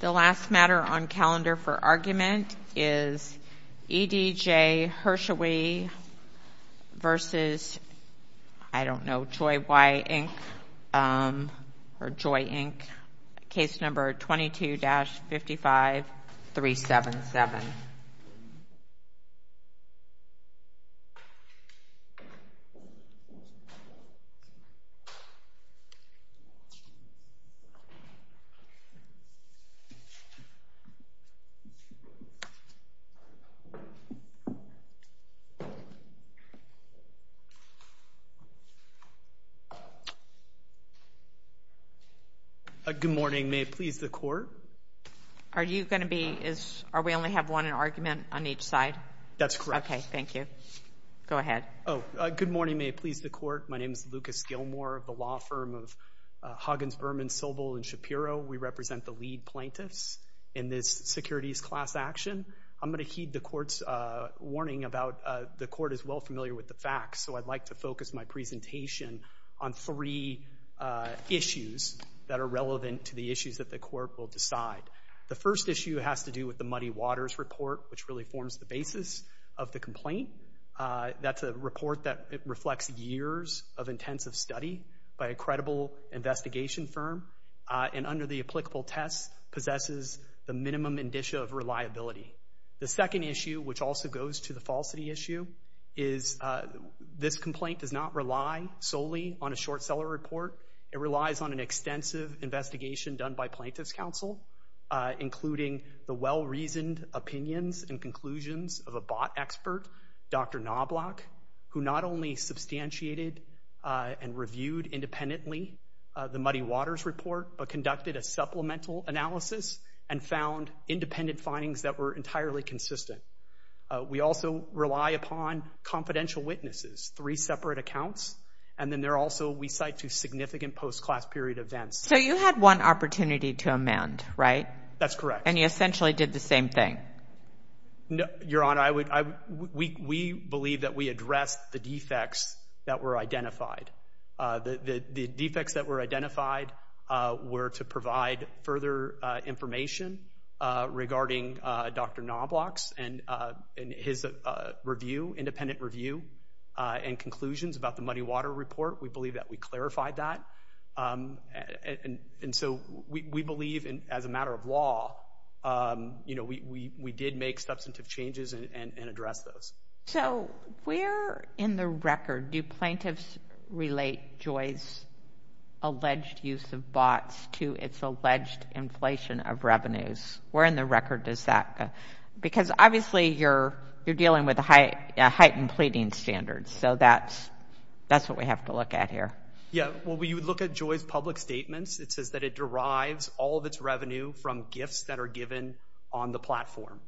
The last matter on calendar for argument is EDJ Hershewe v. JOYY, Inc. Case number 22-55377. Good morning. May it please the Court? Are we only going to have one argument on each side? That's correct. Okay. Thank you. Go ahead. Good morning. May it please the Court? My name is Lucas Gilmore of the law firm of Huggins, Berman, Sobel, and Shapiro. We represent the lead plaintiffs in this securities class action. I'm going to heed the Court's warning about—the Court is well familiar with the facts, so I'd like to focus my presentation on three issues that are relevant to the issues that the Court will decide. The first issue has to do with the Muddy Waters report, which really forms the basis of the complaint. That's a report that reflects years of intensive study by a credible investigation firm and under the applicable tests possesses the minimum indicia of reliability. The second issue, which also goes to the falsity issue, is this complaint does not rely solely on a short seller report. It relies on an extensive investigation done by plaintiffs' counsel, including the well-reasoned conclusions of a bot expert, Dr. Knobloch, who not only substantiated and reviewed independently the Muddy Waters report, but conducted a supplemental analysis and found independent findings that were entirely consistent. We also rely upon confidential witnesses, three separate accounts, and then there are also, we cite, two significant post-class period events. So you had one opportunity to amend, right? That's correct. And you essentially did the same thing. Your Honor, we believe that we addressed the defects that were identified. The defects that were identified were to provide further information regarding Dr. Knobloch's and his review, independent review, and conclusions about the Muddy Waters report. We believe that we clarified that. And so we believe, as a matter of law, you know, we did make substantive changes and address those. So where in the record do plaintiffs relate Joy's alleged use of bots to its alleged inflation of revenues? Where in the record does that go? Because obviously you're dealing with a heightened pleading standard, so that's what we have to look at here. Yeah, well, you would look at Joy's public statements. It says that it derives all of its revenue from gifts that are given on the platform.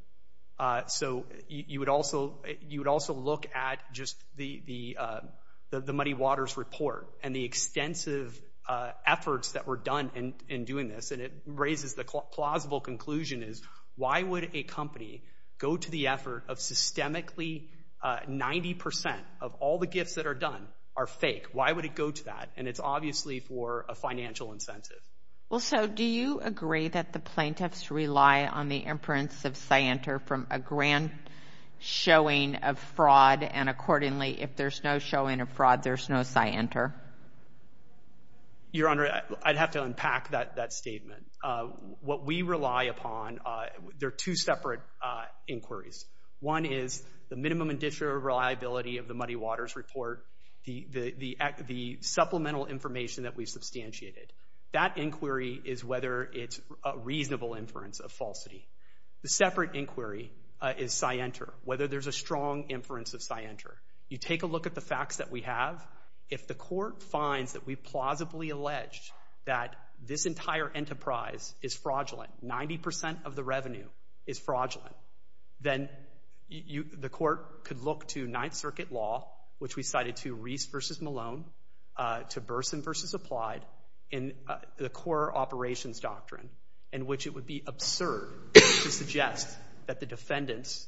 So you would also look at just the Muddy Waters report and the extensive efforts that were done in doing this, and it raises the plausible conclusion is, why would a company go to the effort of systemically 90% of all the gifts that are done are fake? Why would it go to that? And it's obviously for a financial incentive. Well, so do you agree that the plaintiffs rely on the imprints of scienter from a grand showing of fraud, and accordingly, if there's no showing of fraud, there's no scienter? Your Honor, I'd have to unpack that statement. What we rely upon, there are two separate inquiries. One is the minimum and disreliability of the Muddy Waters report, the supplemental information that we substantiated. That inquiry is whether it's a reasonable inference of falsity. The separate inquiry is scienter, whether there's a strong inference of scienter. You take a look at the facts that we have. If the court finds that we plausibly alleged that this entire enterprise is fraudulent, 90% of the revenue is fraudulent, then the court could look to Ninth Circuit law, which we cited to Reese v. Malone, to Burson v. Applied, in the core operations doctrine, in which it would be absurd to suggest that the defendants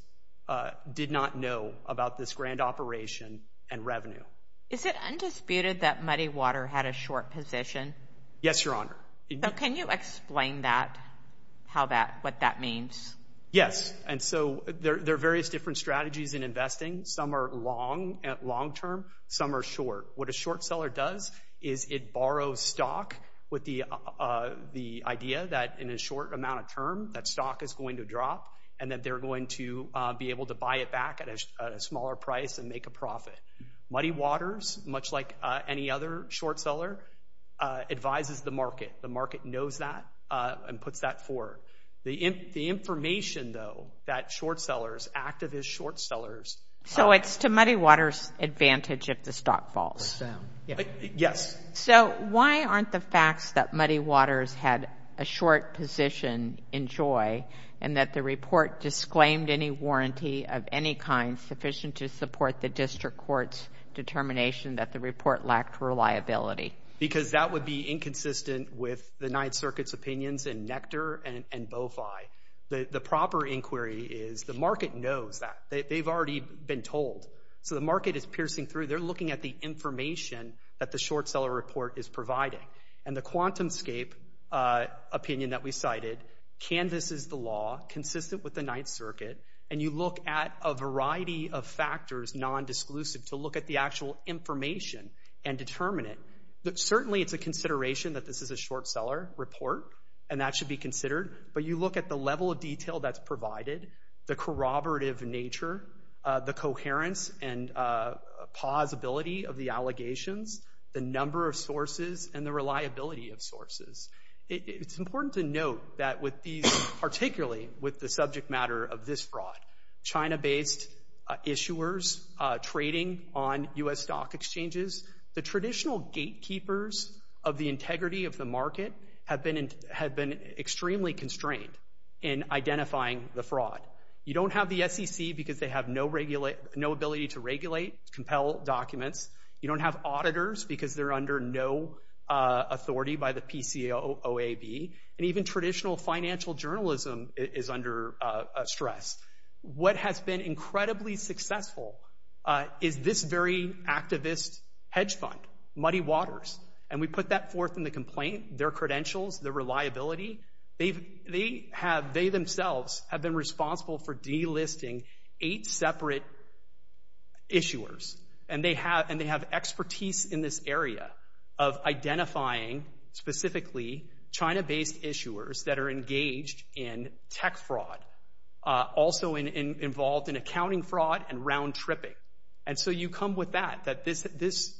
did not know about this grand operation and revenue. Is it undisputed that Muddy Water had a short position? Yes, Your Honor. Can you explain that, what that means? Yes, and so there are various different strategies in investing. Some are long term, some are short. What a short seller does is it borrows stock with the idea that in a short amount of term, that stock is going to drop, and that they're going to be able to buy it back at a smaller price and make a profit. Muddy Waters, much like any other short seller, advises the market. The market knows that and puts that forth. The information, though, that short sellers, activist short sellers... So it's to Muddy Waters' advantage if the stock falls? Yes. So, why aren't the facts that Muddy Waters had a short position enjoy, and that the report disclaimed any warranty of any kind sufficient to support the district court's determination that the report lacked reliability? Because that would be inconsistent with the Ninth Circuit's opinions in Nectar and Bofi. The proper inquiry is the market knows that. They've already been told. So the market is piercing through. They're looking at the information that the short seller report is providing. And the quantum scape opinion that we cited canvases the law consistent with the Ninth Circuit, and you look at a variety of factors, nondisclusive, to look at the actual information and determine it. Certainly, it's a consideration that this is a short seller report, and that should be considered. But you look at the level of detail that's provided, the corroborative nature, the coherence and plausibility of the allegations, the number of sources, and the reliability of sources. It's important to note that with these, particularly with the subject matter of this fraud, China-based issuers trading on U.S. stock exchanges, the traditional gatekeepers of the integrity of the market have been extremely constrained in identifying the fraud. You don't have the SEC because they have no ability to regulate, compel documents. You don't have auditors because they're under no authority by the PCOAB, and even traditional financial journalism is under stress. What has been incredibly successful is this very activist hedge fund, Muddy Waters. And we put that forth in the complaint, their credentials, their reliability. They themselves have been responsible for delisting eight separate issuers. And they have expertise in this area of identifying, specifically, China-based issuers that are also involved in accounting fraud and round-tripping. And so you come with that, that this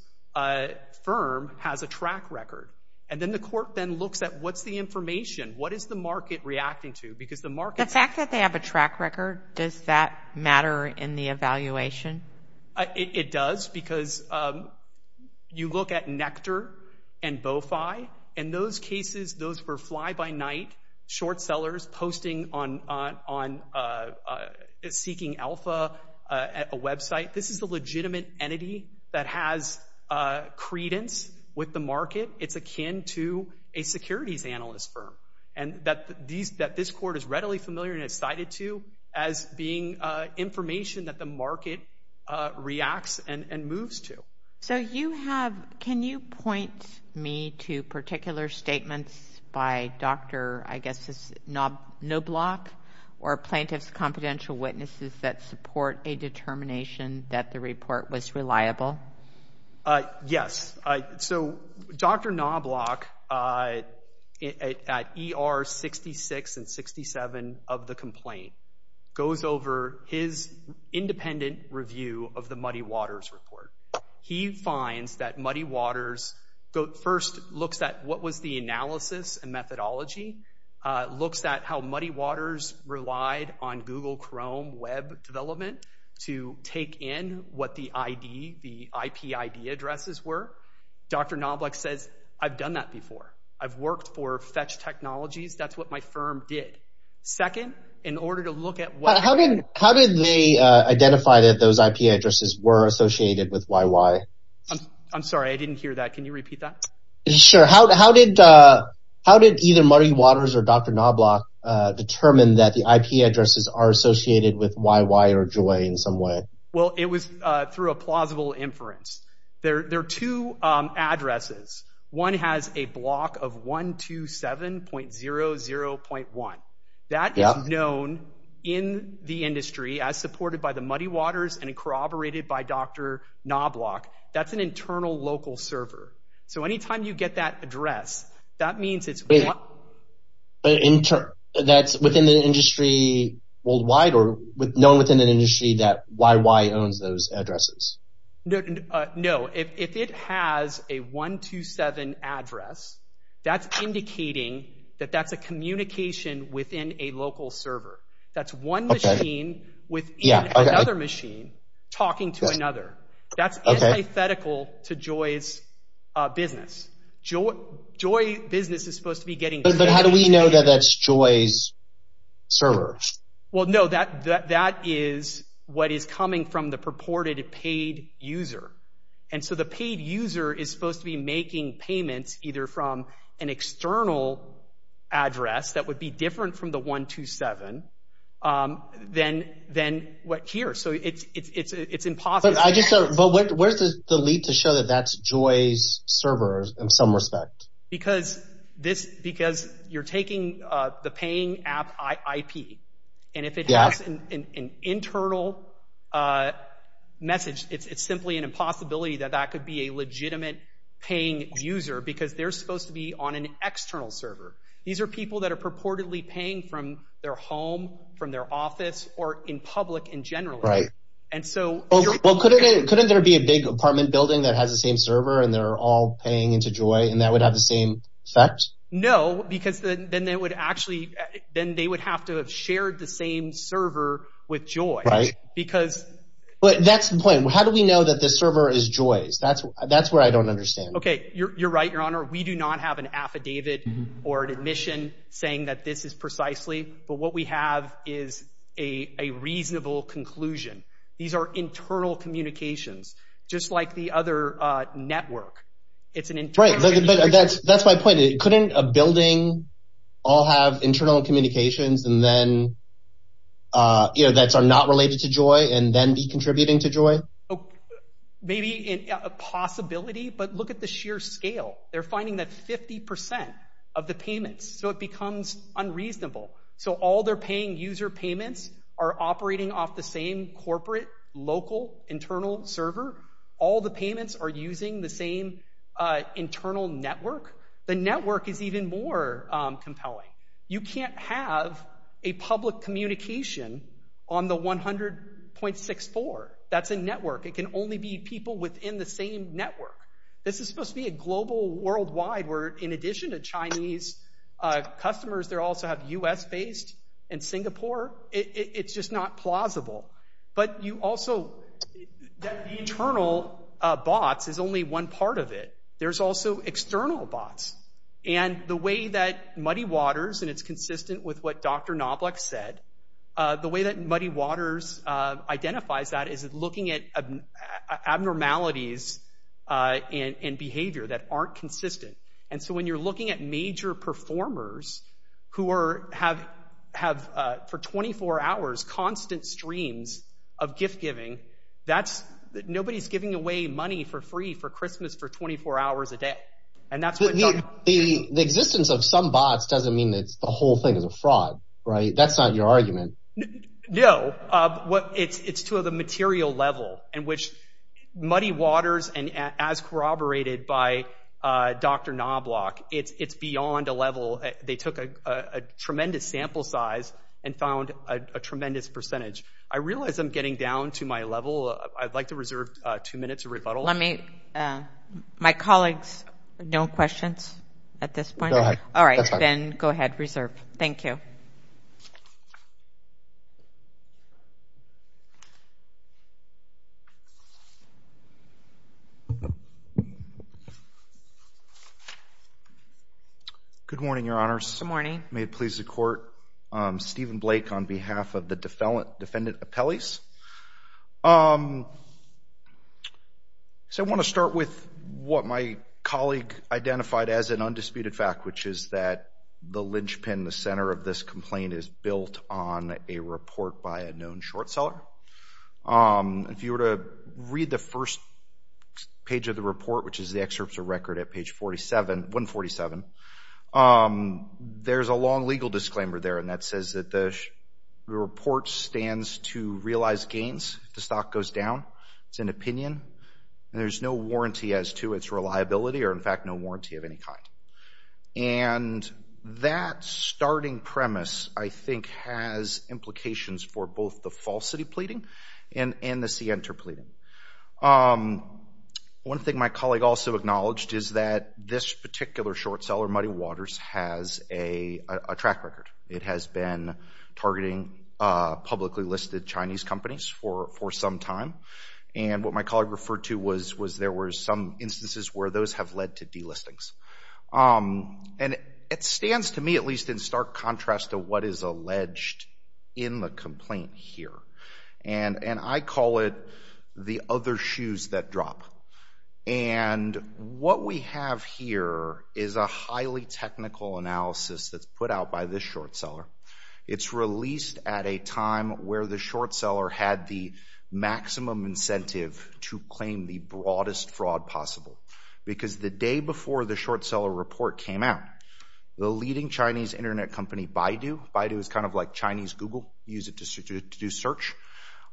firm has a track record. And then the court then looks at what's the information? What is the market reacting to? Because the market's- The fact that they have a track record, does that matter in the evaluation? It does because you look at Nectar and Bofi. In those cases, those were fly-by-night short sellers posting on, seeking alpha at a website. This is a legitimate entity that has credence with the market. It's akin to a securities analyst firm. And that this court is readily familiar and has cited to as being information that the market reacts and moves to. So you have, can you point me to particular statements by Dr., I guess, Knobloch or plaintiff's confidential witnesses that support a determination that the report was reliable? Yes. So, Dr. Knobloch, at ER 66 and 67 of the complaint, goes over his independent review of the Muddy Waters report. He finds that Muddy Waters first looks at what was the analysis and methodology, looks at how Muddy Waters relied on Google Chrome web development to take in what the ID, the IP ID addresses were. Dr. Knobloch says, I've done that before. I've worked for Fetch Technologies. That's what my firm did. Second, in order to look at what- I'm sorry, I didn't hear that. Can you repeat that? Sure. How did either Muddy Waters or Dr. Knobloch determine that the IP addresses are associated with YY or Joy in some way? Well, it was through a plausible inference. There are two addresses. One has a block of 127.00.1. That is known in the industry as supported by the Muddy Waters and corroborated by Dr. Knobloch. That's an internal local server. So anytime you get that address, that means it's- That's within the industry worldwide or known within an industry that YY owns those addresses? No. If it has a 127.00 address, that's indicating that that's a communication within a local server. That's one machine within another machine talking to another. That's antithetical to Joy's business. Joy business is supposed to be getting- But how do we know that that's Joy's server? Well, no. That is what is coming from the purported paid user. And so the paid user is supposed to be making payments either from an external address that would be different from the 127.00 than here. So it's impossible. But where's the lead to show that that's Joy's server in some respect? Because you're taking the paying app IP. And if it has an internal message, it's simply an impossibility that that could be a legitimate paying user because they're supposed to be on an external server. These are people that are purportedly paying from their home, from their office, or in public in general. And so- Well, couldn't there be a big apartment building that has the same server and they're all paying into Joy and that would have the same effect? No, because then they would actually- then they would have to have shared the same server with Joy. Right. Because- But that's the point. How do we know that the server is Joy's? That's where I don't understand. Okay. You're right, Your Honor. We do not have an affidavit or an admission saying that this is precisely. But what we have is a reasonable conclusion. These are internal communications, just like the other network. It's an internal- Right. But that's my point. Couldn't a building all have internal communications and then, you know, that are not related to Joy and then be contributing to Joy? Maybe a possibility, but look at the sheer scale. They're finding that 50% of the payments, so it becomes unreasonable. So all they're paying user payments are operating off the same corporate, local, internal server. All the payments are using the same internal network. The network is even more compelling. You can't have a public communication on the 100.64. That's a network. It can only be people within the same network. This is supposed to be a global worldwide where, in addition to Chinese customers, they also have US-based and Singapore. It's just not plausible. But you also- the internal bots is only one part of it. There's also external bots. And the way that Muddy Waters, and it's consistent with what Dr. Knobloch said, the way that Muddy Waters identifies that is looking at abnormalities in behavior that aren't consistent. And so when you're looking at major performers who have, for 24 hours, constant streams of gift-giving, nobody's giving away money for free for Christmas for 24 hours a day. And that's what- The existence of some bots doesn't mean that the whole thing is a fraud, right? That's not your argument. No. It's to the material level in which Muddy Waters, and as corroborated by Dr. Knobloch, it's beyond a level- they took a tremendous sample size and found a tremendous percentage. I realize I'm getting down to my level. I'd like to reserve two minutes of rebuttal. My colleagues, no questions at this point? Go ahead. That's fine. All right. Then go ahead. Reserve. Thank you. Good morning, Your Honors. Good morning. May it please the Court, Stephen Blake on behalf of the defendant appellees. So I want to start with what my colleague identified as an undisputed fact, which is that the linchpin, the center of this complaint is built on a report by a known short seller. If you were to read the first page of the report, which is the excerpts of record at page 147, there's a long legal disclaimer there, and that says that the report stands to realize gains if the stock goes down. It's an opinion. There's no warranty as to its reliability or, in fact, no warranty of any kind. And that starting premise, I think, has implications for both the falsity pleading and the center pleading. One thing my colleague also acknowledged is that this particular short seller, Muddy Waters, has a track record. It has been targeting publicly listed Chinese companies for some time. And what my colleague referred to was there were some instances where those have led to delistings. And it stands to me, at least in stark contrast to what is alleged in the complaint here. And I call it the other shoes that drop. And what we have here is a highly technical analysis that's put out by this short seller. It's released at a time where the short seller had the maximum incentive to claim the broadest fraud possible. Because the day before the short seller report came out, the leading Chinese internet company Baidu, Baidu is kind of like Chinese Google, you use it to do search,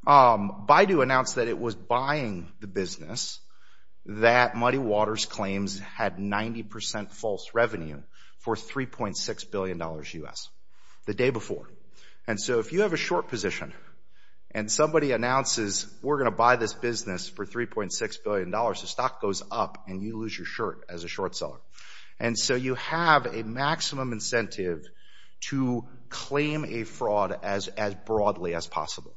Baidu announced that it was buying the business that Muddy Waters claims had 90% false revenue for $3.6 billion US, the day before. And so if you have a short position and somebody announces, we're going to buy this business for $3.6 billion, the stock goes up and you lose your shirt as a short seller. And so you have a maximum incentive to claim a fraud as broadly as possible.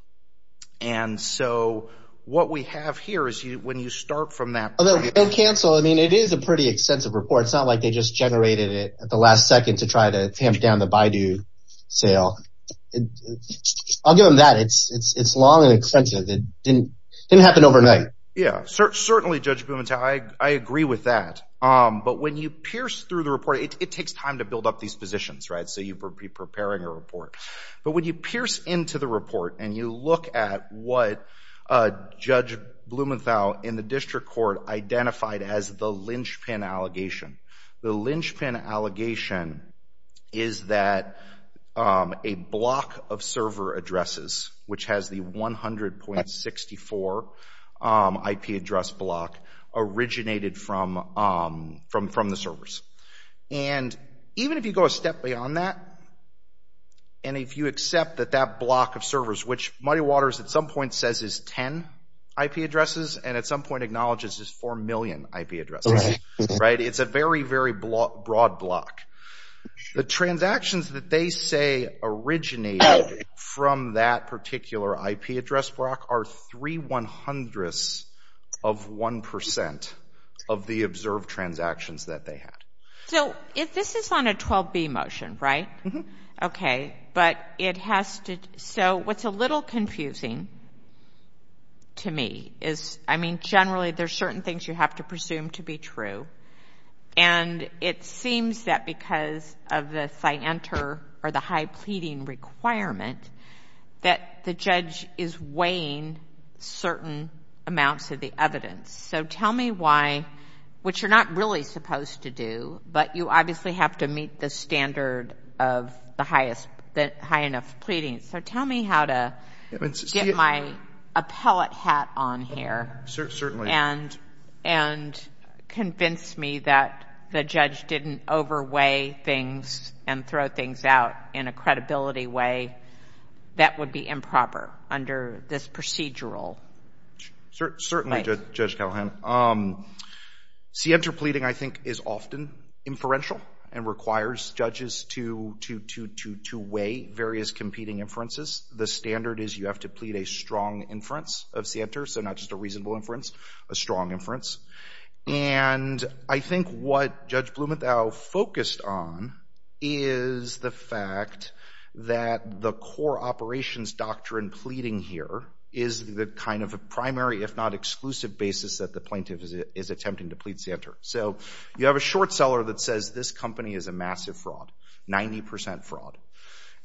And so what we have here is when you start from that point. Although, we don't cancel. I mean, it is a pretty extensive report. It's not like they just generated it at the last second to try to tamp down the Baidu sale. I'll give them that, it's long and extensive, it didn't happen overnight. Yeah, certainly Judge Blumenthal, I agree with that. But when you pierce through the report, it takes time to build up these positions, right? So you'd be preparing a report. But when you pierce into the report and you look at what Judge Blumenthal in the district court identified as the linchpin allegation, the linchpin allegation is that a block of server addresses, which has the 100.64 IP address block, originated from the servers. And even if you go a step beyond that, and if you accept that that block of servers, which Muddy Waters at some point says is 10 IP addresses, and at some point acknowledges is 4 million IP addresses, right? It's a very, very broad block. The transactions that they say originated from that particular IP address block are three one hundredths of one percent of the observed transactions that they had. So if this is on a 12B motion, right? Okay. Okay. But it has to, so what's a little confusing to me is, I mean, generally there's certain things you have to presume to be true. And it seems that because of the CYANTER or the high pleading requirement, that the judge is weighing certain amounts of the evidence. So tell me why, which you're not really supposed to do, but you obviously have to meet the high enough pleading. So tell me how to get my appellate hat on here and convince me that the judge didn't overweigh things and throw things out in a credibility way that would be improper under this procedural place. Certainly, Judge Callahan. CYANTER pleading, I think, is often inferential and requires judges to weigh various competing inferences. The standard is you have to plead a strong inference of CYANTER, so not just a reasonable inference, a strong inference. And I think what Judge Blumenthal focused on is the fact that the core operations doctrine pleading here is the kind of primary, if not exclusive, basis that the plaintiff is attempting to plead CYANTER. So you have a short seller that says, this company is a massive fraud, 90% fraud.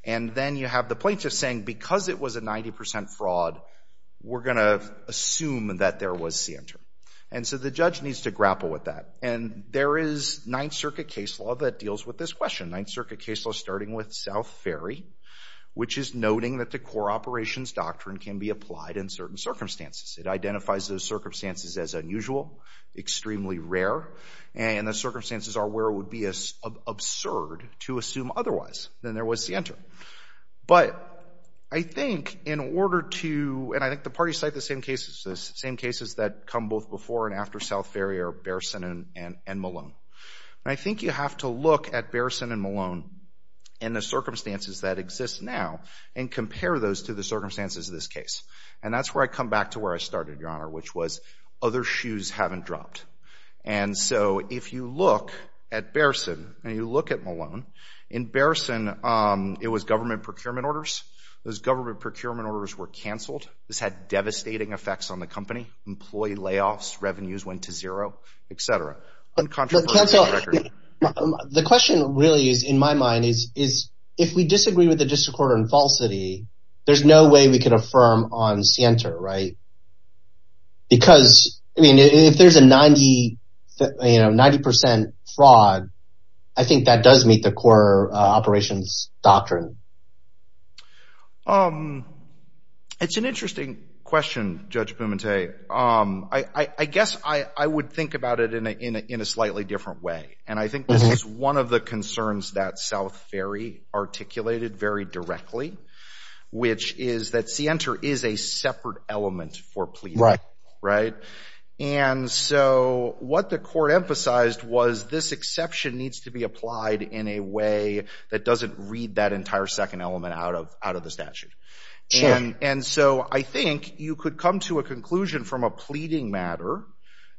And then you have the plaintiff saying, because it was a 90% fraud, we're going to assume that there was CYANTER. And so the judge needs to grapple with that. And there is Ninth Circuit case law that deals with this question, Ninth Circuit case law starting with South Ferry, which is noting that the core operations doctrine can be applied in certain circumstances. It identifies those circumstances as unusual, extremely rare, and the circumstances are where it would be absurd to assume otherwise, then there was CYANTER. But I think in order to—and I think the parties cite the same cases, the same cases that come both before and after South Ferry are Bearson and Malone. And I think you have to look at Bearson and Malone and the circumstances that exist now and compare those to the circumstances of this case. And that's where I come back to where I started, Your Honor, which was other shoes haven't dropped. And so if you look at Bearson and you look at Malone, in Bearson it was government procurement orders. Those government procurement orders were canceled. This had devastating effects on the company. Employee layoffs, revenues went to zero, et cetera. But counsel, the question really is, in my mind, is if we disagree with the district court on falsity, there's no way we can affirm on CYANTER, right? Because I mean, if there's a 90 percent fraud, I think that does meet the core operations doctrine. It's an interesting question, Judge Pumente. I guess I would think about it in a slightly different way. And I think this is one of the concerns that South Ferry articulated very directly, which is that CYANTER is a separate element for pleading, right? And so what the court emphasized was this exception needs to be applied in a way that doesn't read that entire second element out of the statute. And so I think you could come to a conclusion from a pleading matter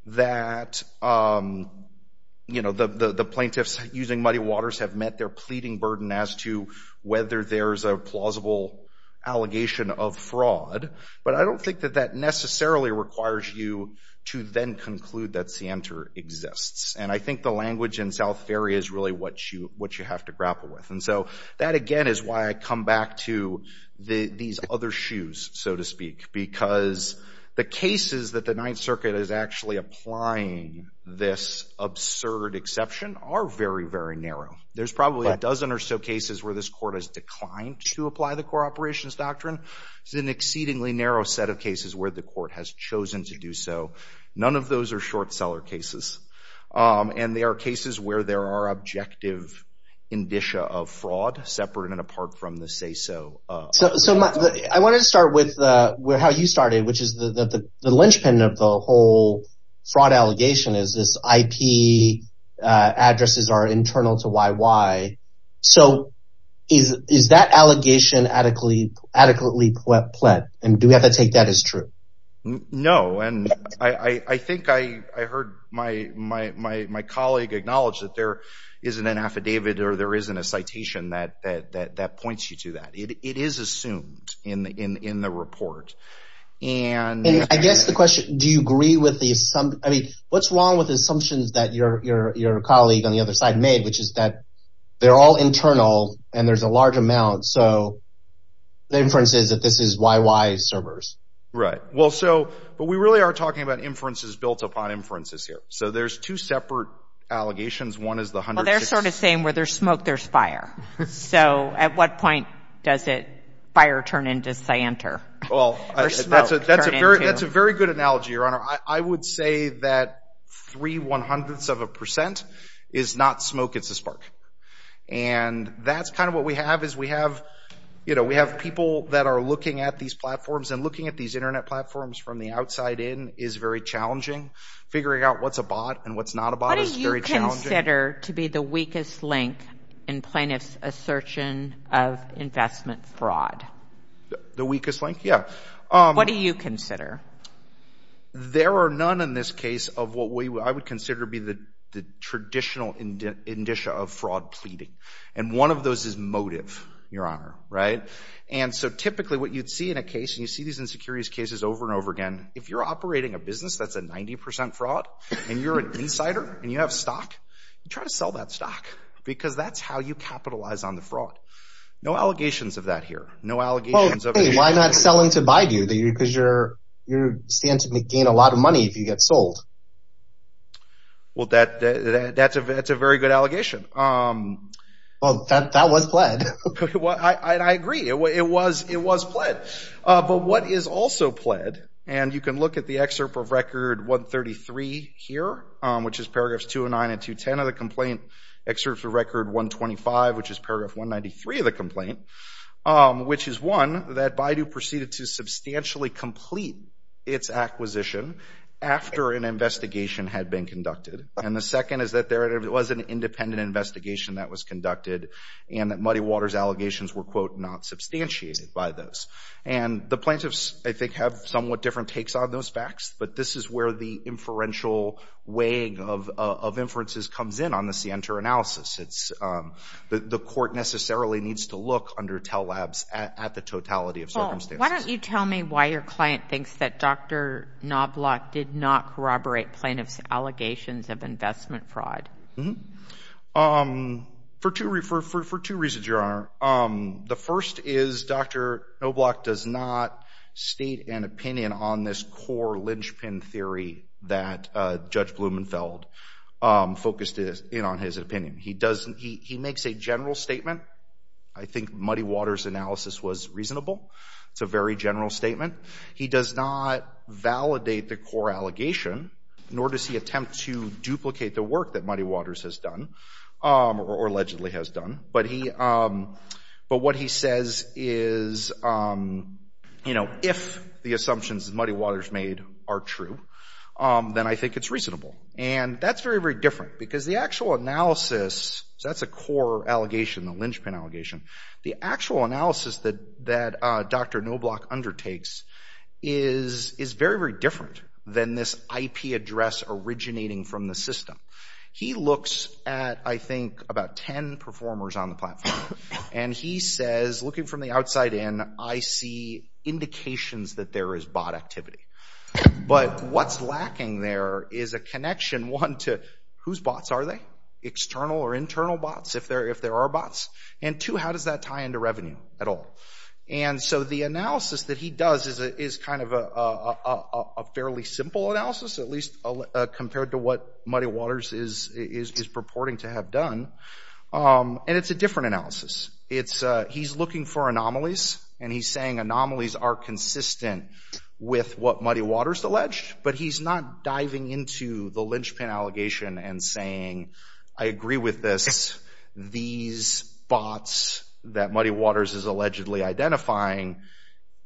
that the plaintiffs using Muddy Waters have met their pleading burden as to whether there's a plausible allegation of fraud. But I don't think that that necessarily requires you to then conclude that CYANTER exists. And I think the language in South Ferry is really what you have to grapple with. And so that again is why I come back to these other shoes, so to speak, because the cases that the Ninth Circuit is actually applying this absurd exception are very, very narrow. There's probably a dozen or so cases where this court has declined to apply the core operations doctrine. It's an exceedingly narrow set of cases where the court has chosen to do so. None of those are short seller cases. And they are cases where there are objective indicia of fraud separate and apart from the say-so. So I wanted to start with how you started, which is the linchpin of the whole fraud allegation is this IP addresses are internal to YY. So is that allegation adequately pled? And do we have to take that as true? No. No. And I think I heard my colleague acknowledge that there isn't an affidavit or there isn't a citation that points you to that. It is assumed in the report. And I guess the question, do you agree with the, I mean, what's wrong with the assumptions that your colleague on the other side made, which is that they're all internal and there's a large amount. So the inference is that this is YY servers. Right. Right. Well, so, but we really are talking about inferences built upon inferences here. So there's two separate allegations. One is the hundred. Well, they're sort of saying where there's smoke, there's fire. So at what point does it fire turn into cyanter? Well, that's a very good analogy, Your Honor. I would say that three one hundredths of a percent is not smoke, it's a spark. And that's kind of what we have is we have, you know, we have people that are looking at these platforms and looking at these Internet platforms from the outside in is very challenging. Figuring out what's a bot and what's not a bot is very challenging. What do you consider to be the weakest link in plaintiff's assertion of investment fraud? The weakest link? Yeah. What do you consider? There are none in this case of what I would consider to be the traditional indicia of fraud pleading. And one of those is motive, Your Honor. Right. And so typically what you'd see in a case, and you see these in securities cases over and over again, if you're operating a business that's a ninety percent fraud and you're an insider and you have stock, you try to sell that stock because that's how you capitalize on the fraud. No allegations of that here. No allegations of it. Well, hey, why not sell into Baidu because you stand to gain a lot of money if you get sold? Well, that's a very good allegation. Well, that was pled. I agree. It was. It was pled. But what is also pled, and you can look at the excerpt of record 133 here, which is paragraphs 209 and 210 of the complaint excerpt for record 125, which is paragraph 193 of the complaint, which is one that Baidu proceeded to substantially complete its acquisition after an investigation had been conducted. And the second is that there was an independent investigation that was conducted and that Fairwater's allegations were, quote, not substantiated by those. And the plaintiffs, I think, have somewhat different takes on those facts. But this is where the inferential weighing of inferences comes in on the CNTER analysis. The court necessarily needs to look under TELLABS at the totality of circumstances. Paul, why don't you tell me why your client thinks that Dr. Knobloch did not corroborate plaintiffs' allegations of investment fraud? For two reasons, Your Honor. The first is Dr. Knobloch does not state an opinion on this core linchpin theory that Judge Blumenfeld focused in on his opinion. He doesn't. He makes a general statement. I think Muddy Water's analysis was reasonable. It's a very general statement. He does not validate the core allegation, nor does he attempt to duplicate the work that Muddy Water's has done, or allegedly has done. But what he says is, you know, if the assumptions Muddy Water's made are true, then I think it's reasonable. And that's very, very different because the actual analysis, so that's a core allegation, the linchpin allegation. The actual analysis that Dr. Knobloch undertakes is very, very different than this IP address originating from the system. He looks at, I think, about 10 performers on the platform. And he says, looking from the outside in, I see indications that there is bot activity. But what's lacking there is a connection, one, to whose bots are they? External or internal bots, if there are bots? And two, how does that tie into revenue at all? And so the analysis that he does is kind of a fairly simple analysis, at least compared to what Muddy Water's is purporting to have done. And it's a different analysis. He's looking for anomalies, and he's saying anomalies are consistent with what Muddy Water's alleged. But he's not diving into the linchpin allegation and saying, I agree with this, these bots that Muddy Water's is allegedly identifying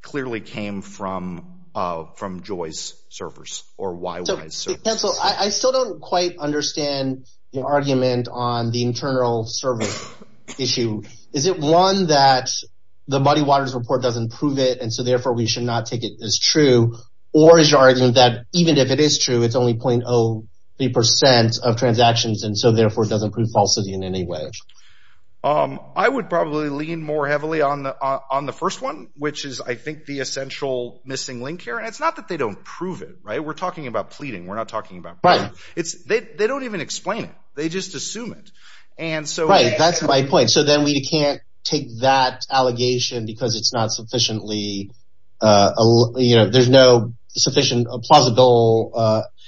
clearly came from Joy's servers or YY's servers. So, counsel, I still don't quite understand your argument on the internal server issue. Is it, one, that the Muddy Water's report doesn't prove it, and so therefore we should not take it as true? Or is your argument that even if it is true, it's only 0.03% of transactions, and so therefore it doesn't prove falsity in any way? I would probably lean more heavily on the first one, which is, I think, the essential missing link here. And it's not that they don't prove it, right? We're talking about pleading. We're not talking about... Right. They don't even explain it. They just assume it. And so... Right. That's my point. So then we can't take that allegation because it's not sufficiently, you know, there's no sufficient, plausible...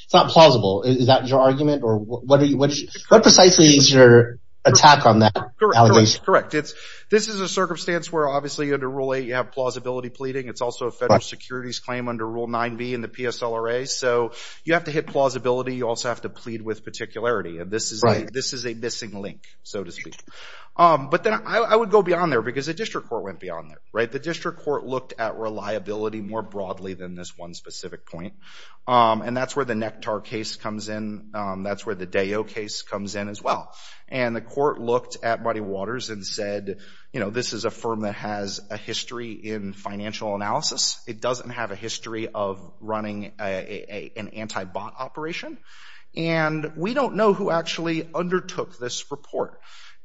It's not plausible. Is that your argument? Or what precisely is your attack on that allegation? Correct. Correct. This is a circumstance where, obviously, under Rule 8, you have plausibility pleading. It's also a federal securities claim under Rule 9b in the PSLRA. So you have to hit plausibility. You also have to plead with particularity, and this is a missing link, so to speak. But then I would go beyond there because the district court went beyond there, right? The district court looked at reliability more broadly than this one specific point. And that's where the Nektar case comes in. That's where the Deyo case comes in as well. And the court looked at Muddy Waters and said, you know, this is a firm that has a history in financial analysis. It doesn't have a history of running an anti-bot operation. And we don't know who actually undertook this report.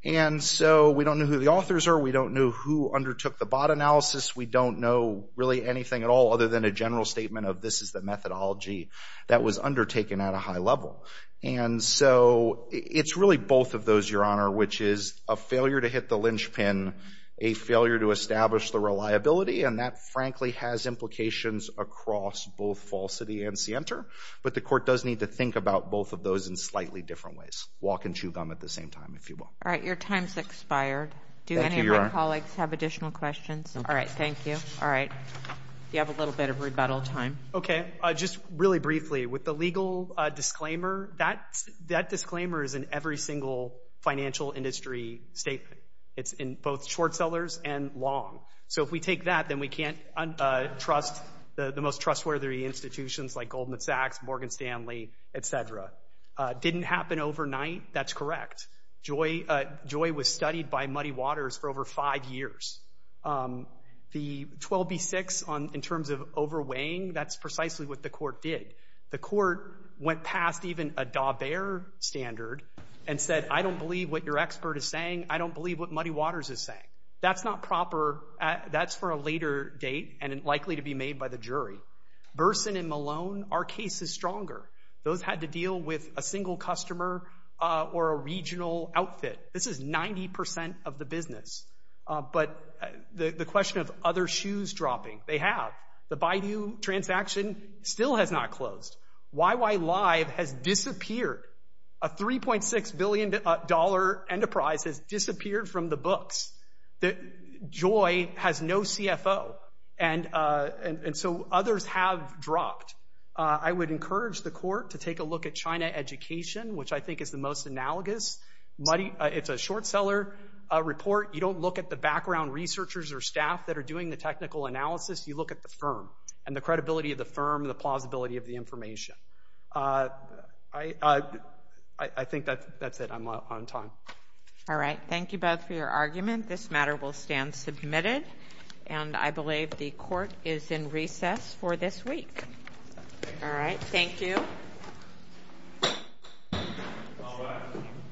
And so we don't know who the authors are. We don't know who undertook the bot analysis. We don't know really anything at all other than a general statement of this is the methodology that was undertaken at a high level. And so it's really both of those, Your Honor, which is a failure to hit the linchpin, a failure to establish the reliability. And that, frankly, has implications across both falsity and scienter. But the court does need to think about both of those in slightly different ways, walk and chew gum at the same time, if you will. All right. Your time's expired. Thank you, Your Honor. Do any of my colleagues have additional questions? All right. Thank you. All right. You have a little bit of rebuttal time. Okay. Just really briefly. With the legal disclaimer, that disclaimer is in every single financial industry statement. It's in both Schwartzellers and Long. So if we take that, then we can't trust the most trustworthy institutions like Goldman Sachs, Morgan Stanley, et cetera. Didn't happen overnight. That's correct. Joy was studied by Muddy Waters for over five years. The 12B6, in terms of overweighing, that's precisely what the court did. The court went past even a Daubert standard and said, I don't believe what your expert is saying. I don't believe what Muddy Waters is saying. That's not proper. That's for a later date and likely to be made by the jury. Burson and Malone are cases stronger. Those had to deal with a single customer or a regional outfit. This is 90% of the business. But the question of other shoes dropping, they have. The Baidu transaction still has not closed. YY Live has disappeared. A $3.6 billion enterprise has disappeared from the books. Joy has no CFO. And so others have dropped. I would encourage the court to take a look at China Education, which I think is the most analogous. It's a short seller report. You don't look at the background researchers or staff that are doing the technical analysis. You look at the firm and the credibility of the firm, the plausibility of the information. I think that's it. I'm out on time. All right. Thank you both for your argument. This matter will stand submitted. And I believe the court is in recess for this week. All right. Thank you. All right.